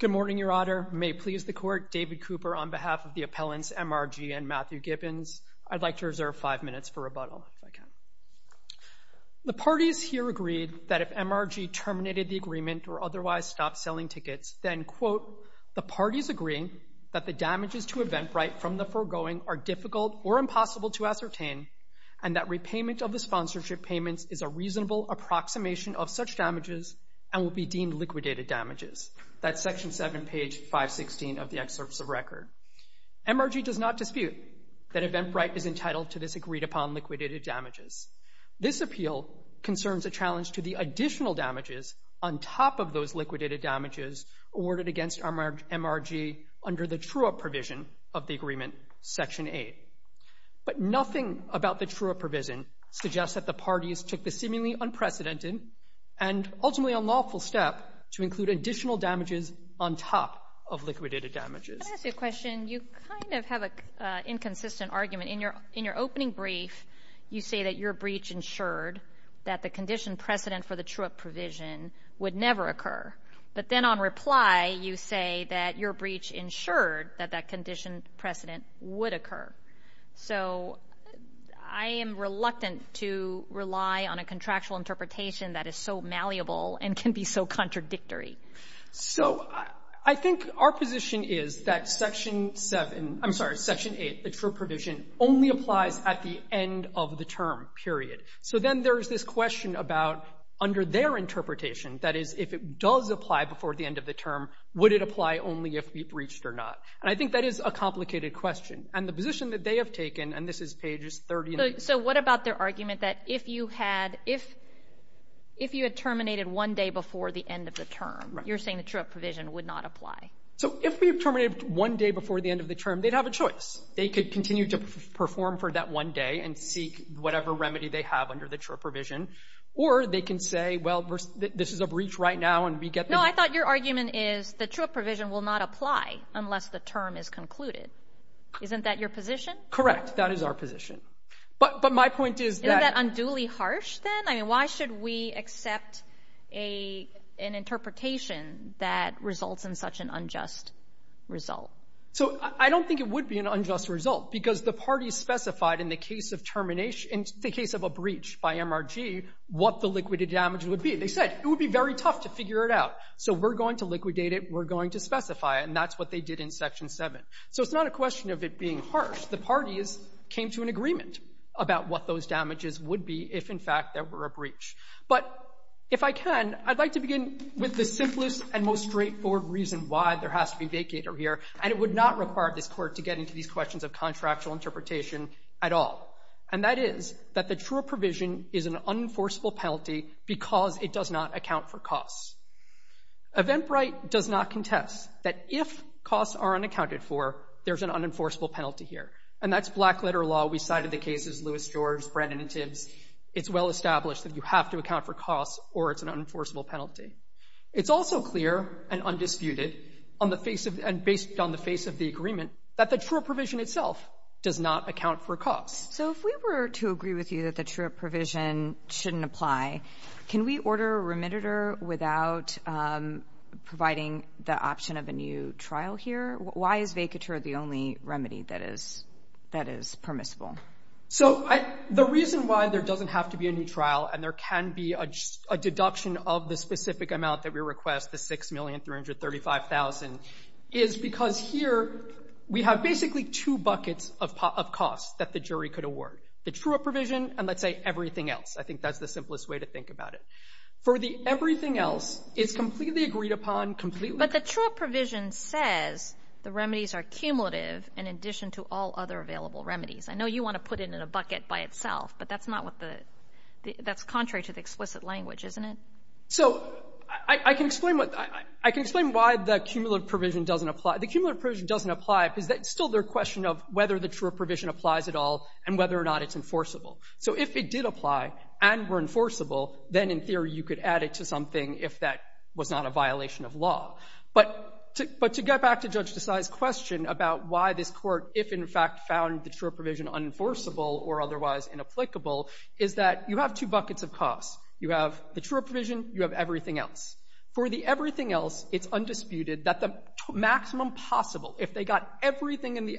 Good morning, Your Honor. May it please the Court, David Cooper on behalf of the appellants M.R.G. and Matthew Gibbons. I'd like to reserve five minutes for rebuttal, if I can. The parties here agreed that if M.R.G. terminated the agreement or otherwise stopped selling tickets, then, quote, the parties agreeing that the damages to Eventbrite from the foregoing are difficult or impossible to ascertain, and that repayment of the sponsorship payments is a reasonable approximation of such damages and would be deemed liquidated damages. That's Section 7, page 516 of the excerpts of record. M.R.G. does not dispute that Eventbrite is entitled to this agreed-upon liquidated damages. This appeal concerns a challenge to the additional damages on top of those liquidated damages awarded against M.R.G. under the true-up provision of the agreement, Section 8. But nothing about the true-up provision suggests that the parties took the seemingly unprecedented and ultimately unlawful step to include additional damages on top of liquidated damages. Let me ask you a question. You kind of have an inconsistent argument. In your opening brief, you say that your breach ensured that the condition precedent for the true-up provision would never occur. But then on reply, you say that your breach ensured that that condition rely on a contractual interpretation that is so malleable and can be so contradictory. So I think our position is that Section 7 — I'm sorry, Section 8, the true-up provision, only applies at the end of the term, period. So then there's this question about under their interpretation, that is, if it does apply before the end of the term, would it apply only if we breached or not? And I think that is a complicated question. And the position that they have taken, and this is pages 30 and — So what about their argument that if you had — if you had terminated one day before the end of the term, you're saying the true-up provision would not apply? So if we had terminated one day before the end of the term, they'd have a choice. They could continue to perform for that one day and seek whatever remedy they have under the true-up provision. Or they can say, well, this is a breach right now, and we get the — No, I thought your argument is the true-up provision will not apply unless the term is concluded. Isn't that your position? Correct. That is our position. But my point is that — Isn't that unduly harsh, then? I mean, why should we accept an interpretation that results in such an unjust result? So I don't think it would be an unjust result, because the parties specified in the case of termination — in the case of a breach by MRG, what the liquidated damage would be. They said, it would be very tough to figure it out. So we're going to liquidate it, we're going to specify it, and that's what they did in Section 7. So it's not a question of it being harsh. The parties came to an agreement about what those damages would be if, in fact, there were a breach. But if I can, I'd like to begin with the simplest and most straightforward reason why there has to be vacator here, and it would not require this Court to get into these questions of contractual interpretation at all. And that is that the true-up provision is an unenforceable penalty because it does not account for costs. Eventbrite does not contest that if costs are unaccounted for, there's an unenforceable penalty here. And that's black-letter law. We cited the cases Lewis, George, Brandon, and Tibbs. It's well-established that you have to account for costs or it's an unenforceable penalty. It's also clear and undisputed on the face of — and based on the face of the agreement that the true-up provision itself does not account for costs. So if we were to agree with you that the true-up provision shouldn't apply, can we order remediator without providing the option of a new trial here? Why is vacator the only remedy that is permissible? So the reason why there doesn't have to be a new trial and there can be a deduction of the specific amount that we request, the $6,335,000, is because here we have basically two buckets of costs that the jury could award, the true-up provision and, let's say, everything else. I think that's the simplest way to think about it. For the everything else, it's completely agreed upon, completely— But the true-up provision says the remedies are cumulative in addition to all other available remedies. I know you want to put it in a bucket by itself, but that's not what the — that's contrary to the explicit language, isn't it? So I can explain what — I can explain why the cumulative provision doesn't apply. The cumulative provision doesn't apply because it's still the question of whether the true-up applies at all and whether or not it's enforceable. So if it did apply and were enforceable, then in theory you could add it to something if that was not a violation of law. But to get back to Judge Desai's question about why this Court, if in fact found the true-up provision unenforceable or otherwise inapplicable, is that you have two buckets of costs. You have the true-up provision, you have everything else. For the everything else, it's undisputed that the maximum possible, if they got everything in the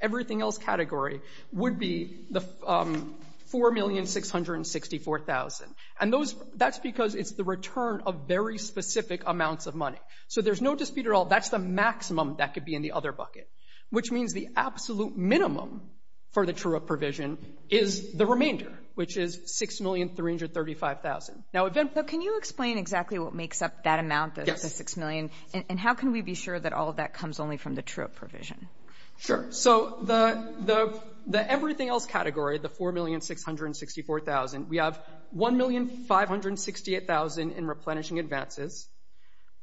everything else category, would be the $4,664,000. And those — that's because it's the return of very specific amounts of money. So there's no dispute at all. That's the maximum that could be in the other bucket, which means the absolute minimum for the true-up provision is the remainder, which is $6,335,000. Now, if — But can you explain exactly what makes up that amount, the $6 million? Yes. And how can we be sure that all of that comes only from the true-up provision? Sure. So the everything else category, the $4,664,000, we have $1,568,000 in replenishing advances,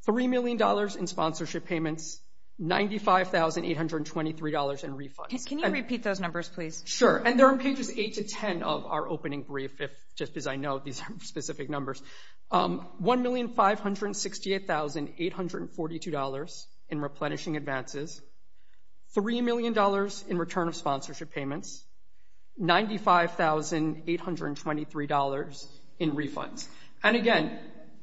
$3 million in sponsorship payments, $95,823 in refunds. Can you repeat those numbers, please? Sure. And they're on pages 8 to 10 of our opening brief, if — just because I know these are specific numbers. $1,568,842 in replenishing advances, $3 million in return of sponsorship payments, $95,823 in refunds. And again,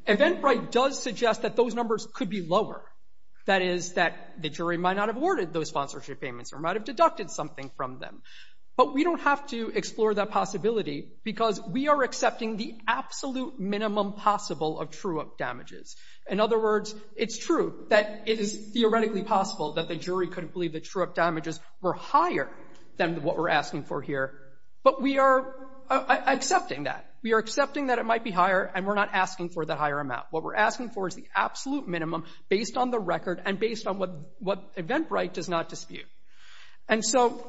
Eventbrite does suggest that those numbers could be lower. That is, that the jury might not have awarded those sponsorship payments or might have deducted something from them. But we don't have to explore that possibility because we are accepting the absolute minimum possible of true-up damages. In other words, it's true that it is theoretically possible that the jury could believe that true-up damages were higher than what we're asking for here. But we are accepting that. We are accepting that it might be higher, and we're not asking for the higher amount. What we're asking for is the absolute minimum based on the record and based on what Eventbrite does not dispute. And so,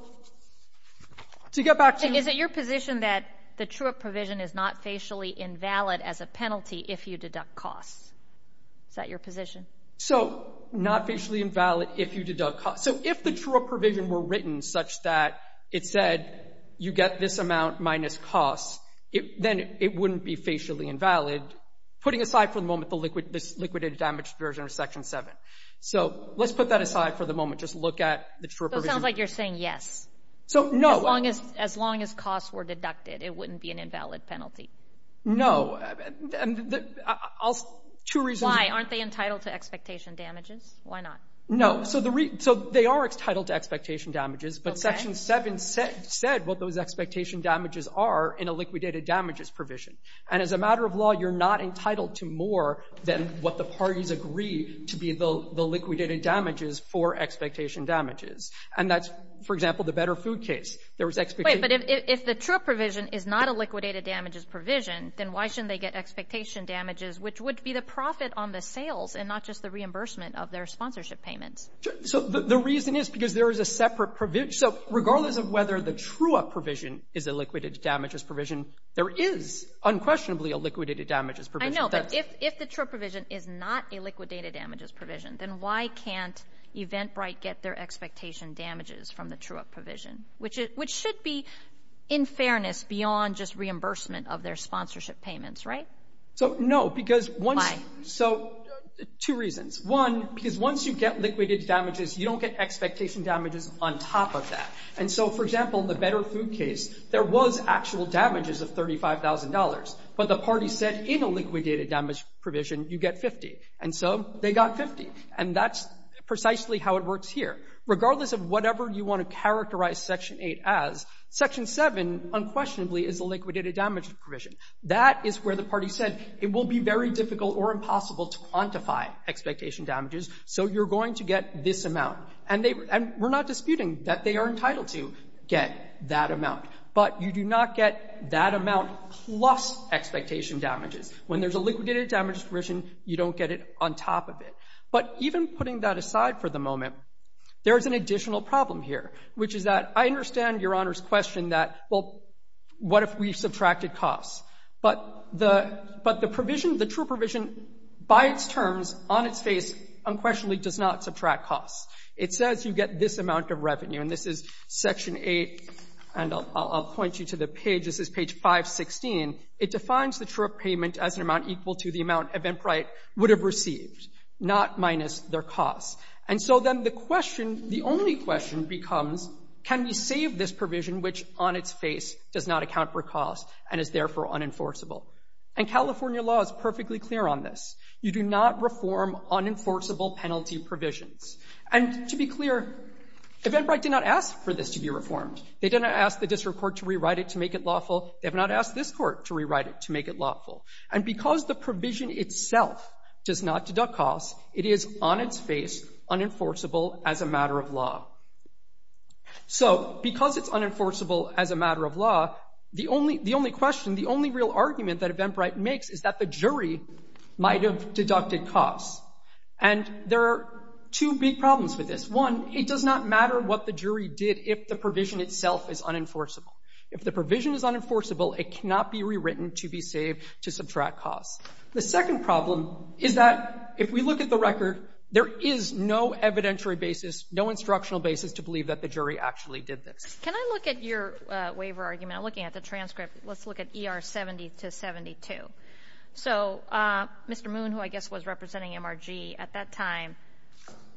to get back to — Is it your position that the true-up provision is not facially invalid as a penalty if you deduct costs? Is that your position? So, not facially invalid if you deduct costs. So, if the true-up provision were written such that it said you get this amount minus costs, then it wouldn't be facially invalid, putting aside for the moment this liquidated damage version of Section 7. So, let's put that aside for the moment. Just look at the true-up provision. So, it sounds like you're saying yes. So, no. As long as costs were deducted, it wouldn't be an invalid penalty. No. Two reasons — Why? Aren't they entitled to expectation damages? Why not? No. So, they are entitled to expectation damages, but Section 7 said what those expectation damages are in a liquidated damages provision. And as a matter of law, you're not entitled to more than what the parties agree to be the liquidated damages for expectation damages. And that's, for example, the Better Food case. There was expectation — Wait. But if the true-up provision is not a liquidated damages provision, then why shouldn't they get expectation damages, which would be the profit on the sales and not just the reimbursement of their sponsorship payments? So, the reason is because there is a separate — so, regardless of whether the true-up provision is a liquidated damages provision, there is unquestionably a liquidated damages provision. I know, but if the true-up provision is not a liquidated damages provision, then why can't Eventbrite get their expectation damages from the true-up provision, which should be in fairness beyond just reimbursement of their sponsorship payments, right? So, no. Because once — Why? So, two reasons. One, because once you get liquidated damages, you don't get expectation damages on top of that. And so, for example, in the Better Food case, there was actual damages of $35,000. But the party said in a liquidated damages provision, you get 50. And so they got 50. And that's precisely how it works here. Regardless of whatever you want to characterize Section 8 as, Section 7 unquestionably is a liquidated damages provision. That is where the party said it will be very difficult or impossible to quantify expectation damages, so you're going to get this amount. And they — and we're not disputing that they are entitled to get that amount. But you do not get that amount plus expectation damages. When there's a liquidated damages provision, you don't get it on top of it. But even putting that aside for the moment, there is an additional problem here, which is that I understand Your Honor's question that, well, what if we subtracted costs? But the — but the provision, the true provision, by its terms, on its face, unquestionably does not subtract costs. It says you get this amount of revenue, and this is Section 8, and I'll — I'll point you to the page. This is page 516. It defines the true payment as an amount equal to the amount Eventbrite would have received, not minus their costs. And so then the question, the only question becomes, can we save this provision which on its face does not account for costs and is therefore unenforceable? And California law is perfectly clear on this. You do not reform unenforceable penalty provisions. And to be clear, Eventbrite did not ask for this to be reformed. They did not ask the district court to rewrite it to make it lawful. They have not asked this Court to rewrite it to make it lawful. And because the provision itself does not deduct costs, it is on its face unenforceable as a matter of law. So because it's unenforceable as a matter of law, the only — the only question, the only real argument that Eventbrite makes is that the jury might have deducted costs. And there are two big problems with this. One, it does not matter what the jury did if the provision itself is unenforceable. If the provision is unenforceable, it cannot be rewritten to be saved to subtract costs. The second problem is that if we look at the record, there is no evidentiary basis, no instructional basis to believe that the jury actually did this. Can I look at your waiver argument? I'm looking at the transcript. Let's look at ER 70-72. So Mr. Moon, who I guess was representing MRG at that time,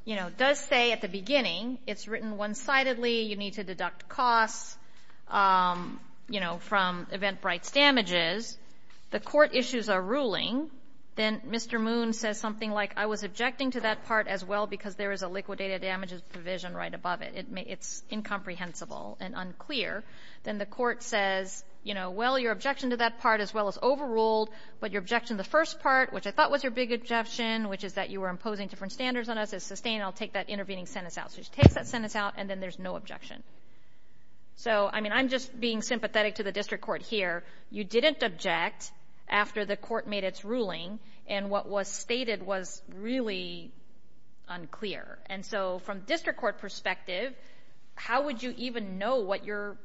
you know, does say at the beginning it's written one-sidedly, you need to deduct costs, you know, from Eventbrite's damages. The court issues a ruling. Then Mr. Moon says something like, I was objecting to that part as well because there is a liquidated damages provision right above it. It's incomprehensible and unclear. Then the court says, you know, well, your objection to that part as well is overruled, but your objection to the first part, which I thought was your big objection, which is that you were imposing different standards on us, is sustained. I'll take that intervening sentence out. So she takes that sentence out, and then there's no objection. So, I mean, I'm just being sympathetic to the district court here. You didn't object after the court made its ruling, and what was stated was really unclear. And so from district court perspective, how would you even know what your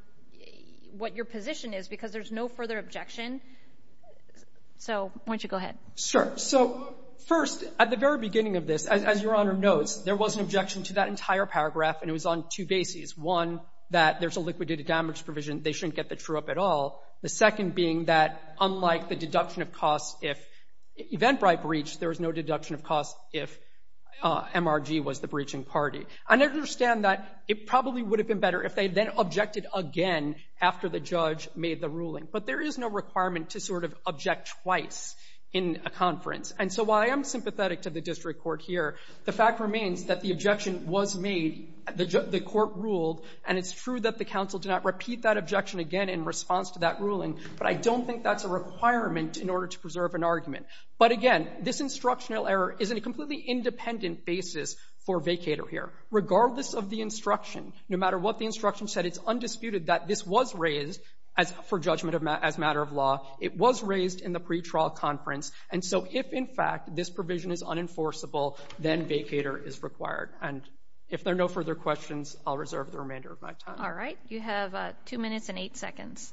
position is because there's no further objection? So why don't you go ahead. Sure. So first, at the very beginning of this, as Your Honor notes, there was an objection to that entire paragraph, and it was on two bases. One, that there's a liquidated damages provision. They shouldn't get the true up at all. The second being that unlike the deduction of costs if Eventbrite breached, there was no MRG was the breaching party. I understand that it probably would have been better if they then objected again after the judge made the ruling, but there is no requirement to sort of object twice in a conference. And so while I am sympathetic to the district court here, the fact remains that the objection was made, the court ruled, and it's true that the counsel did not repeat that objection again in response to that ruling, but I don't think that's a requirement in order to preserve an argument. But again, this instructional error isn't completely independent basis for vacator here. Regardless of the instruction, no matter what the instruction said, it's undisputed that this was raised for judgment as matter of law. It was raised in the pretrial conference. And so if, in fact, this provision is unenforceable, then vacator is required. And if there are no further questions, I'll reserve the remainder of my time. All right. You have two minutes and eight seconds.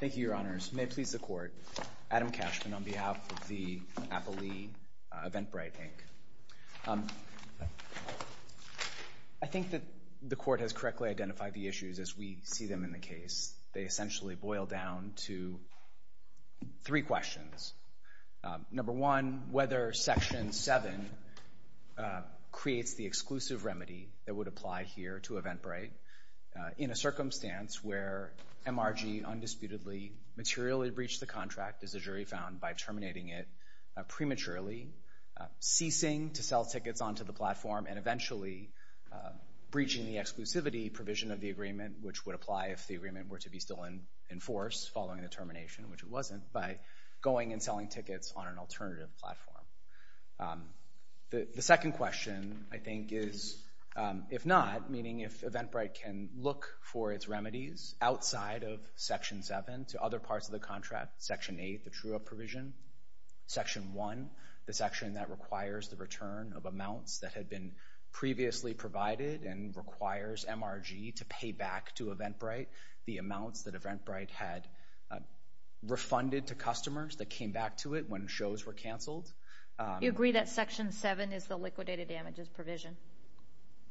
Thank you, Your Honors. May it please the court. Adam Cashman on behalf of the Applee Eventbrite Inc. I think that the court has correctly identified the issues as we see them in the case. They essentially boil down to three questions. Number one, whether Section 7 creates the exclusive remedy that would apply here to Eventbrite in a circumstance where MRG undisputedly materially breached the contract, as the jury found, by terminating it prematurely, ceasing to sell tickets onto the platform, and eventually breaching the exclusivity provision of the agreement, which would apply if the agreement were to be still in force following the termination, which it wasn't, by going and selling tickets on an alternative platform. The second question, I think, is if not, meaning if Eventbrite can look for its remedies outside of Section 7 to other parts of the contract, Section 8, the true-up provision, Section 1, the section that requires the return of amounts that had been previously provided and requires MRG to pay back to Eventbrite the amounts that Eventbrite had refunded to customers that came back to it when shows were canceled. You agree that Section 7 is the liquidated damages provision?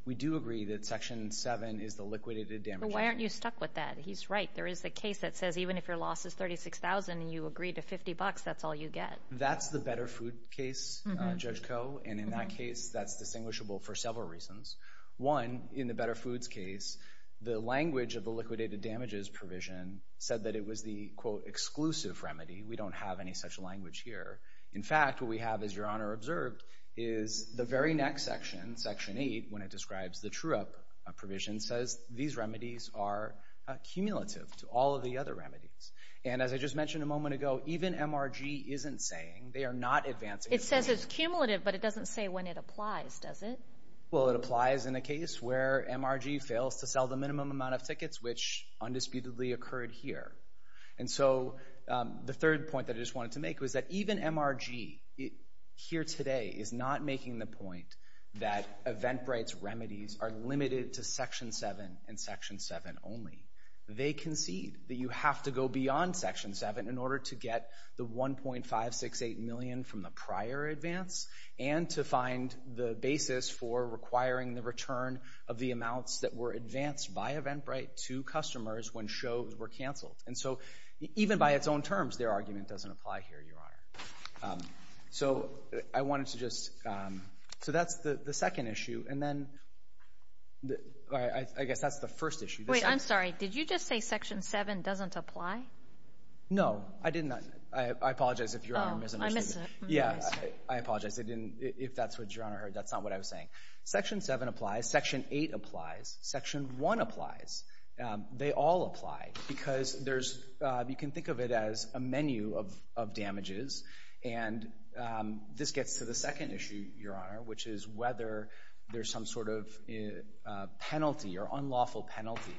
We do agree that Section 7 is the liquidated damages. Why aren't you stuck with that? He's right. There is a case that says even if your loss is $36,000 and you agree to $50, that's all you get. That's the Better Food case, Judge Koh, and in that case that's distinguishable for several reasons. One, in the Better Foods case, the language of the liquidated damages provision said that it was the, quote, exclusive remedy. We don't have any such language here. In fact, what we have, as Your Honor observed, is the very next section, Section 8, when it describes the true-up provision, says these remedies are cumulative to all of the other remedies. And as I just mentioned a moment ago, even MRG isn't saying, they are not advancing. It says it's cumulative, but it doesn't say when it applies, does it? Well, it applies in a case where MRG fails to sell the minimum amount of tickets, which undisputedly occurred here. And so the third point that I just wanted to make was that even MRG, here today, is not making the point that Eventbrite's remedies are limited to Section 7 and Section 7 only. They concede that you have to go beyond Section 7 in order to get the 1.568 million from the prior advance and to find the basis for requiring the return of the amounts that were advanced by Eventbrite to customers when shows were canceled. And so even by its own terms, their argument doesn't apply here, Your Honor. So I wanted to just, so that's the second issue. And then, I guess that's the first issue. Wait, I'm sorry. Did you just say Section 7 doesn't apply? No, I apologize if Your Honor misunderstood. Oh, I missed it. Yeah, I apologize. I didn't, if that's what Your Honor heard, that's not what I was saying. Section 7 applies, Section 8 applies, Section 1 applies. They all apply because there's, you can think of it as a menu of damages. And this gets to the second issue, Your Honor, which is whether there's some sort of penalty or unlawful penalty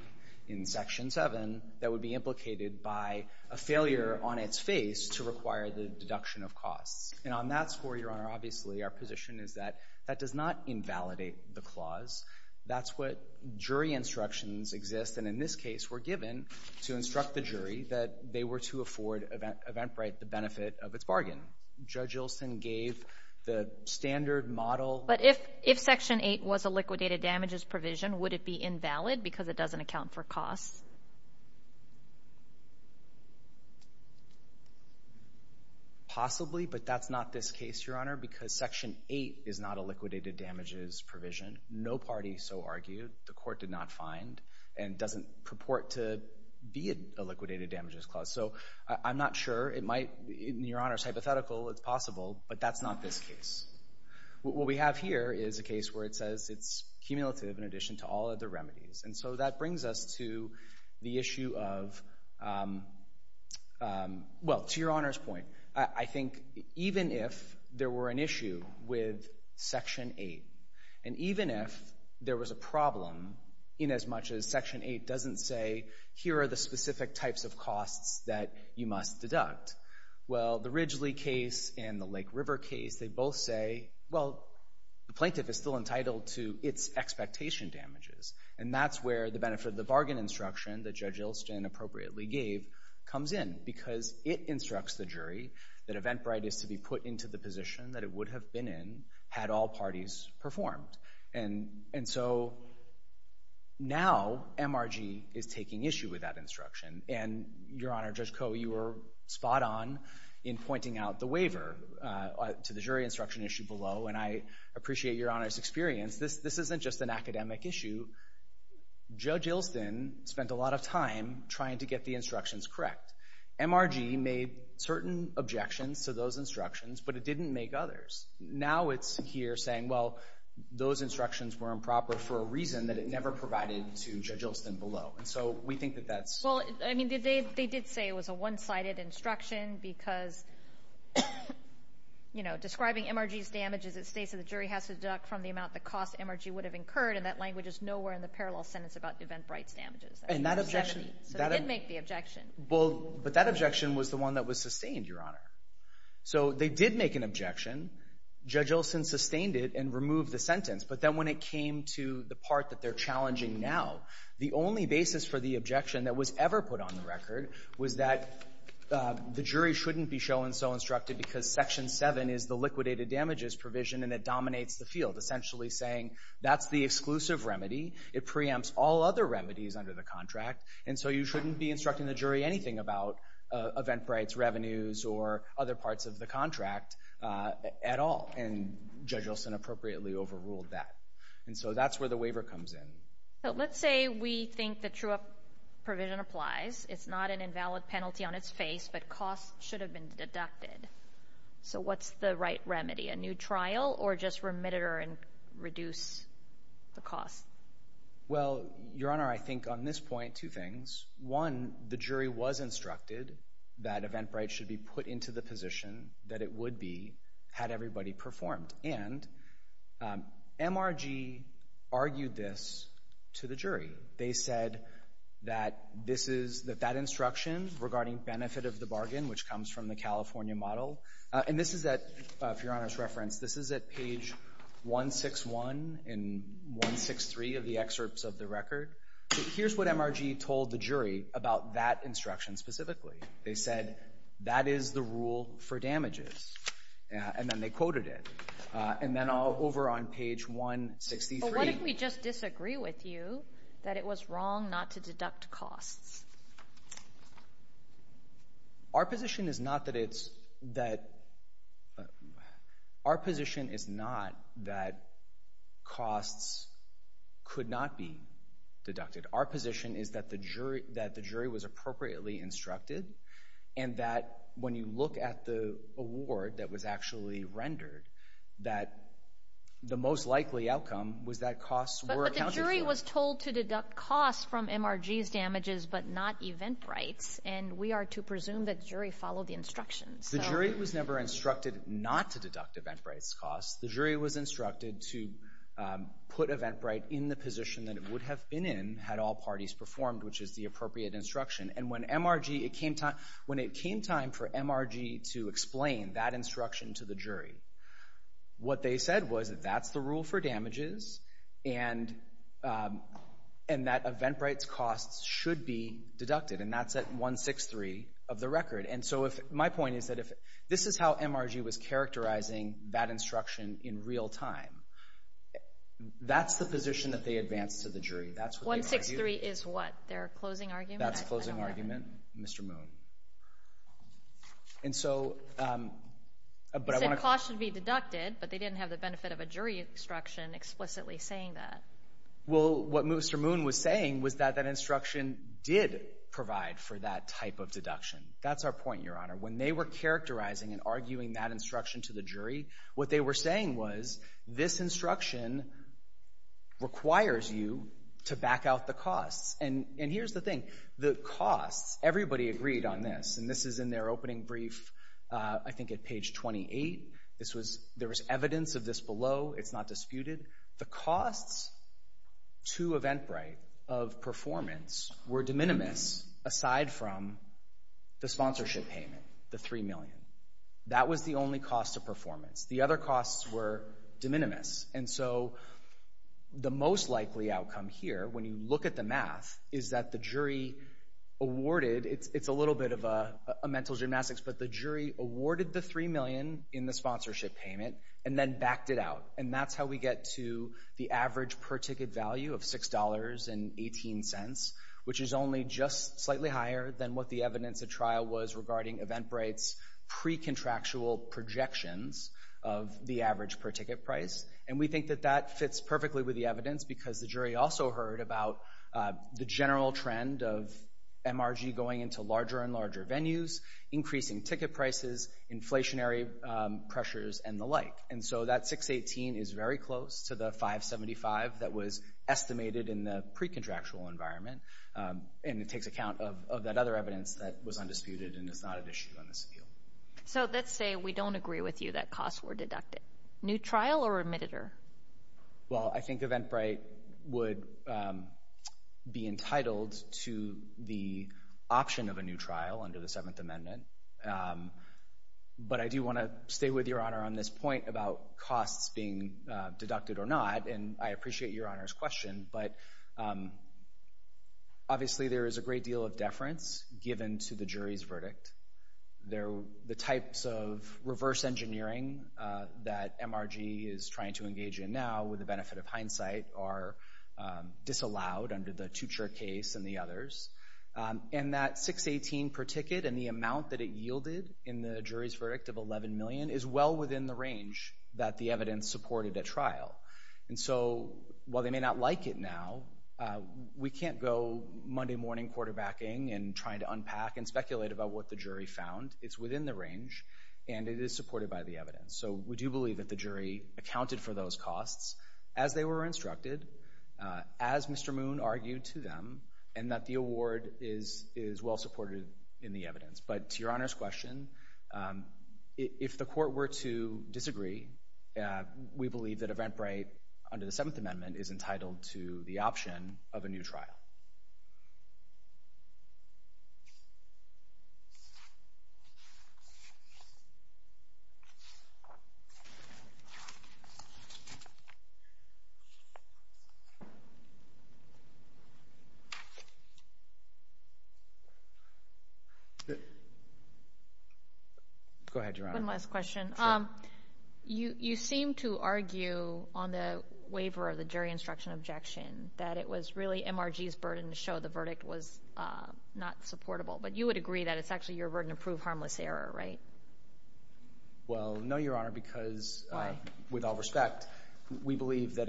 in Section 7 that would be implicated by a failure on its face to require the deduction of costs. And on that score, Your Honor, obviously our position is that that does not invalidate the clause. That's what jury instructions exist, and in this case, we're given to instruct the jury that they were to afford Eventbrite the benefit of its bargain. Judge Ilsen gave the standard model. But if Section 8 was a liquidated damages provision, would it be invalid because it doesn't account for a penalty? Possibly, but that's not this case, Your Honor, because Section 8 is not a liquidated damages provision. No party so argued. The court did not find and doesn't purport to be a liquidated damages clause. So I'm not sure. It might, Your Honor, it's hypothetical. It's possible, but that's not this case. What we have here is a case where it says it's cumulative in addition to all other well, to Your Honor's point, I think even if there were an issue with Section 8, and even if there was a problem in as much as Section 8 doesn't say here are the specific types of costs that you must deduct, well, the Ridgely case and the Lake River case, they both say, well, the plaintiff is still entitled to its expectation damages, and that's where the benefit of the bargain instruction that the jury appropriately gave comes in, because it instructs the jury that event right is to be put into the position that it would have been in had all parties performed. And so now MRG is taking issue with that instruction, and Your Honor, Judge Koh, you were spot-on in pointing out the waiver to the jury instruction issue below, and I appreciate Your Honor's experience. This isn't just an academic issue. Judge Ilston spent a lot of time trying to get the instructions correct. MRG made certain objections to those instructions, but it didn't make others. Now it's here saying, well, those instructions were improper for a reason that it never provided to Judge Ilston below, and so we think that that's... Well, I mean, they did say it was a one-sided instruction because, you know, describing MRG's damages, it states that the jury has to deduct from the cost MRG would have incurred, and that language is nowhere in the parallel sentence about event rights damages. And that objection... So it did make the objection. Well, but that objection was the one that was sustained, Your Honor. So they did make an objection. Judge Ilston sustained it and removed the sentence, but then when it came to the part that they're challenging now, the only basis for the objection that was ever put on the record was that the jury shouldn't be shown so instructed because Section 7 is the liquidated damages provision, and it is essentially saying that's the exclusive remedy. It preempts all other remedies under the contract, and so you shouldn't be instructing the jury anything about event rights, revenues, or other parts of the contract at all, and Judge Ilston appropriately overruled that. And so that's where the waiver comes in. So let's say we think the true-up provision applies. It's not an invalid penalty on its face, but costs should have been deducted. So what's the right to reduce the cost? Well, Your Honor, I think on this point, two things. One, the jury was instructed that event rights should be put into the position that it would be had everybody performed. And MRG argued this to the jury. They said that this is, that that instruction regarding benefit of the bargain, which comes from the California model, and this is that, for Your Honor's reference, this is at 161 and 163 of the excerpts of the record. Here's what MRG told the jury about that instruction specifically. They said that is the rule for damages, and then they quoted it. And then over on page 163. But what if we just disagree with you that it was wrong not to deduct costs? Our position is not that it's, that, our position is that costs could not be deducted. Our position is that the jury, that the jury was appropriately instructed, and that when you look at the award that was actually rendered, that the most likely outcome was that costs were accounted for. But the jury was told to deduct costs from MRG's damages but not event rights, and we are to presume that jury followed the instructions. The jury was never instructed not to deduct event rights costs. The jury was instructed to put event right in the position that it would have been in had all parties performed, which is the appropriate instruction. And when MRG, it came time, when it came time for MRG to explain that instruction to the jury, what they said was that that's the rule for damages, and, and that event rights costs should be deducted. And that's at 163 of the record. And so if, my point is that if this is how MRG was characterizing that instruction in real time, that's the position that they advanced to the jury. That's what they argued. 163 is what, their closing argument? That's closing argument, Mr. Moon. And so, but I want to... They said costs should be deducted, but they didn't have the benefit of a jury instruction explicitly saying that. Well, what Mr. Moon was saying was that that instruction did provide for that type of deduction. That's our point, Your Honor. When they were characterizing and arguing that instruction to the jury, what they were saying was, this instruction requires you to back out the costs. And, and here's the thing. The costs, everybody agreed on this, and this is in their opening brief, I think at page 28. This was, there was evidence of this below. It's not disputed. The costs to Eventbrite of performance were de minimis aside from the sponsorship payment, the three million. That was the only cost of performance. The other costs were de minimis. And so the most likely outcome here, when you look at the math, is that the jury awarded, it's a little bit of a mental gymnastics, but the jury awarded the three million in the sponsorship payment and then backed it out. And that's how we get to the average per ticket value of $6.18, which is only just slightly higher than what the evidence at trial was regarding Eventbrite's pre-contractual projections of the average per ticket price. And we think that that fits perfectly with the evidence because the jury also heard about the general trend of MRG going into larger and larger venues, increasing ticket prices, inflationary pressures, and the like. And so that $6.18 is very close to the $5.75 that was estimated in the pre-contractual environment, and it takes account of that other evidence that was undisputed and is not at issue on this appeal. So let's say we don't agree with you that costs were deducted. New trial or remitted-er? Well, I think Eventbrite would be entitled to the $6.18, but I do want to stay with Your Honor on this point about costs being deducted or not, and I appreciate Your Honor's question, but obviously there is a great deal of deference given to the jury's verdict. The types of reverse engineering that MRG is trying to engage in now, with the benefit of hindsight, are disallowed under the Tucher case and the others. And that $6.18 per ticket and the amount that it yielded in the jury's verdict of $11 million is well within the range that the evidence supported at trial. And so while they may not like it now, we can't go Monday morning quarterbacking and trying to unpack and speculate about what the jury found. It's within the range, and it is supported by the evidence. So we do believe that the jury accounted for those costs as they were instructed, as Mr. Moon argued to them, and that the award is well supported in the evidence. But to Your Honor's question, if the court were to disagree, we believe that Eventbrite, under the Seventh Amendment, is entitled to the option of a new trial. Go ahead, Your Honor. One last question. You seem to argue on the waiver of the jury instruction objection that it was really MRG's burden to show the verdict was not supportable. But you would agree that it's actually your burden to prove harmless error, right? Well, no, Your Honor, because with all respect, we believe that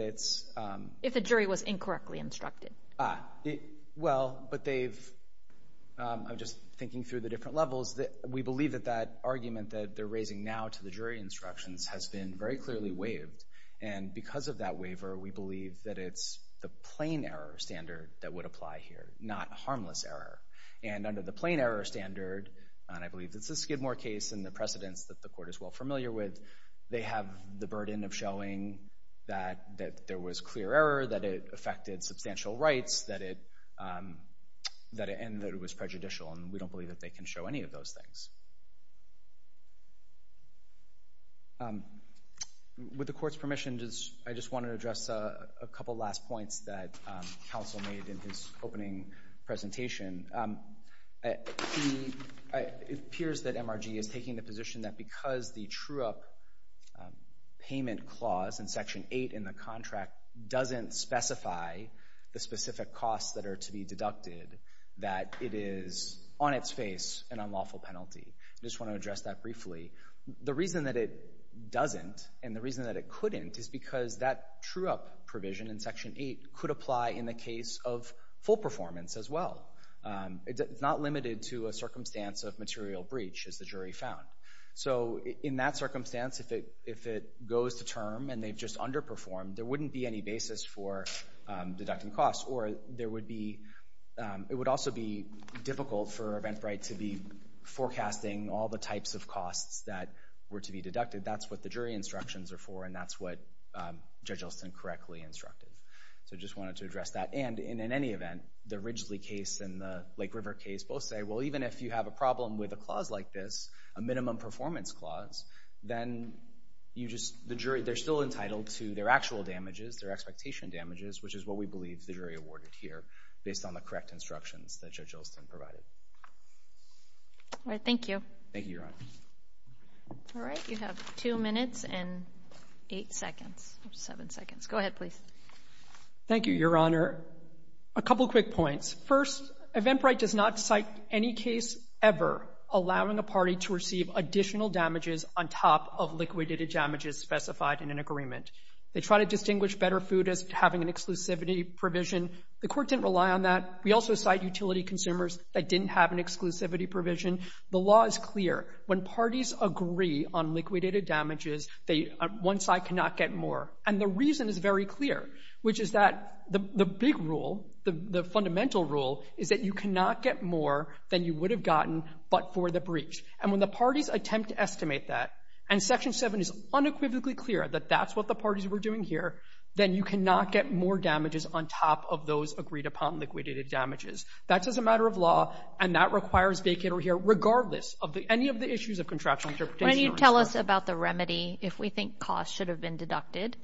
that argument that they're raising now to the jury instructions has been very clearly waived. And because of that waiver, we believe that it's the plain error standard that would apply here, not harmless error. And under the plain error standard, and I believe it's the Skidmore case and the precedents that the court is well familiar with, they have the burden of showing that there was clear error, that it affected substantial rights, and that it was prejudicial. And we don't believe that they can show any of those things. With the court's permission, I just want to address a couple last points that counsel made in his opening presentation. It appears that MRG is taking the contract doesn't specify the specific costs that are to be deducted, that it is on its face an unlawful penalty. I just want to address that briefly. The reason that it doesn't, and the reason that it couldn't, is because that true-up provision in Section 8 could apply in the case of full performance as well. It's not limited to a circumstance of material breach, as the jury found. So in that circumstance, if it goes to term and they've just underperformed, there wouldn't be any basis for deducting costs, or there would be, it would also be difficult for Eventbrite to be forecasting all the types of costs that were to be deducted. That's what the jury instructions are for, and that's what Judge Olson correctly instructed. So I just wanted to address that. And in any event, the Ridgely case and the Lake River case both say, well, even if you have a problem with a clause like this, a minimum performance clause, then you just, the jury, they're still entitled to their actual damages, their expectation damages, which is what we believe the jury awarded here, based on the correct instructions that Judge Olson provided. All right, thank you. Thank you, Your Honor. All right, you have two minutes and eight seconds, seven seconds. Go ahead, please. Thank you, Your Honor. A couple quick points. First, Eventbrite does not cite any case ever allowing a party to receive additional damages on top of liquidated damages specified in an agreement. They try to distinguish better food as having an exclusivity provision. The court didn't rely on that. We also cite utility consumers that didn't have an exclusivity provision. The law is clear. When parties agree on liquidated damages, one side cannot get more. And the reason is very clear, which is that the big rule, the fundamental rule, is that you cannot get more than you would have gotten but for the breach. And when the parties attempt to estimate that, and Section 7 is unequivocally clear that that's what the parties were doing here, then you cannot get more damages on top of those agreed upon liquidated damages. That's as a matter of law, and that requires vacate over here, regardless of any of the issues of contractual interpretation. When you tell us about the remedy, if we think cost should have been deducted,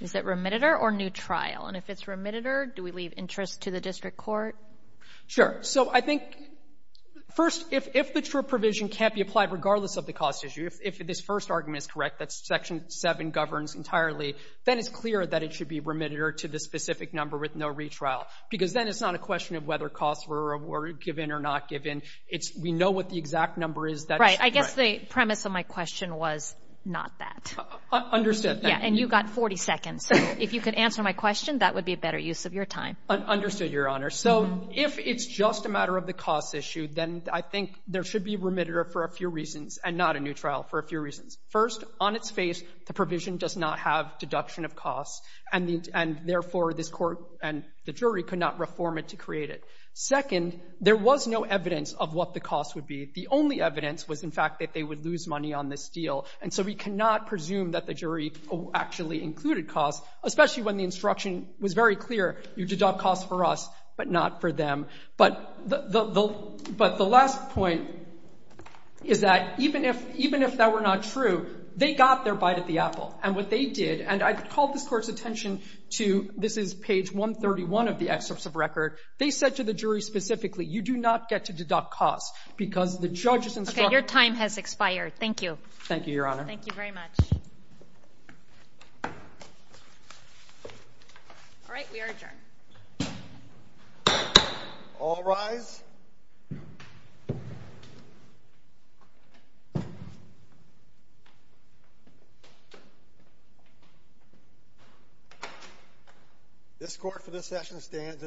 is it remitted or new trial? And if it's remitted, do we leave interest to the district court? Sure. So I think, first, if the true provision can't be applied regardless of the cost issue, if this first argument is correct, that Section 7 governs entirely, then it's clear that it should be remitted or to the specific number with no retrial. Because then it's not a question of whether costs were given or not given. It's we know what the exact number is. Right. I guess the premise of my question was not that. Understood. Yeah. And you got 40 seconds. So if you could answer my question, that would be a better use of your time. Understood, Your Honor. So if it's just a matter of the cost issue, then I think there should be remitted for a few reasons and not a new trial for a few reasons. First, on its face, the provision does not have deduction of costs, and therefore, this Court and the jury could not reform it to create it. Second, there was no evidence of what the cost would be. The only evidence was, in fact, that they would lose money on this deal. And so we cannot presume that the jury actually included costs, especially when the instruction was very clear, you deduct costs for us, but not for them. But the last point is that even if that were not true, they got their bite at the apple. And what they did, and I call this Court's attention to this is page 131 of the excerpts of record. They said to the jury specifically, you do not get to deduct costs, because the judge's instruction Your time has expired. Thank you. Thank you, Your Honor. Thank you very much. All right, we are adjourned. All rise. This Court for this session stands adjourned.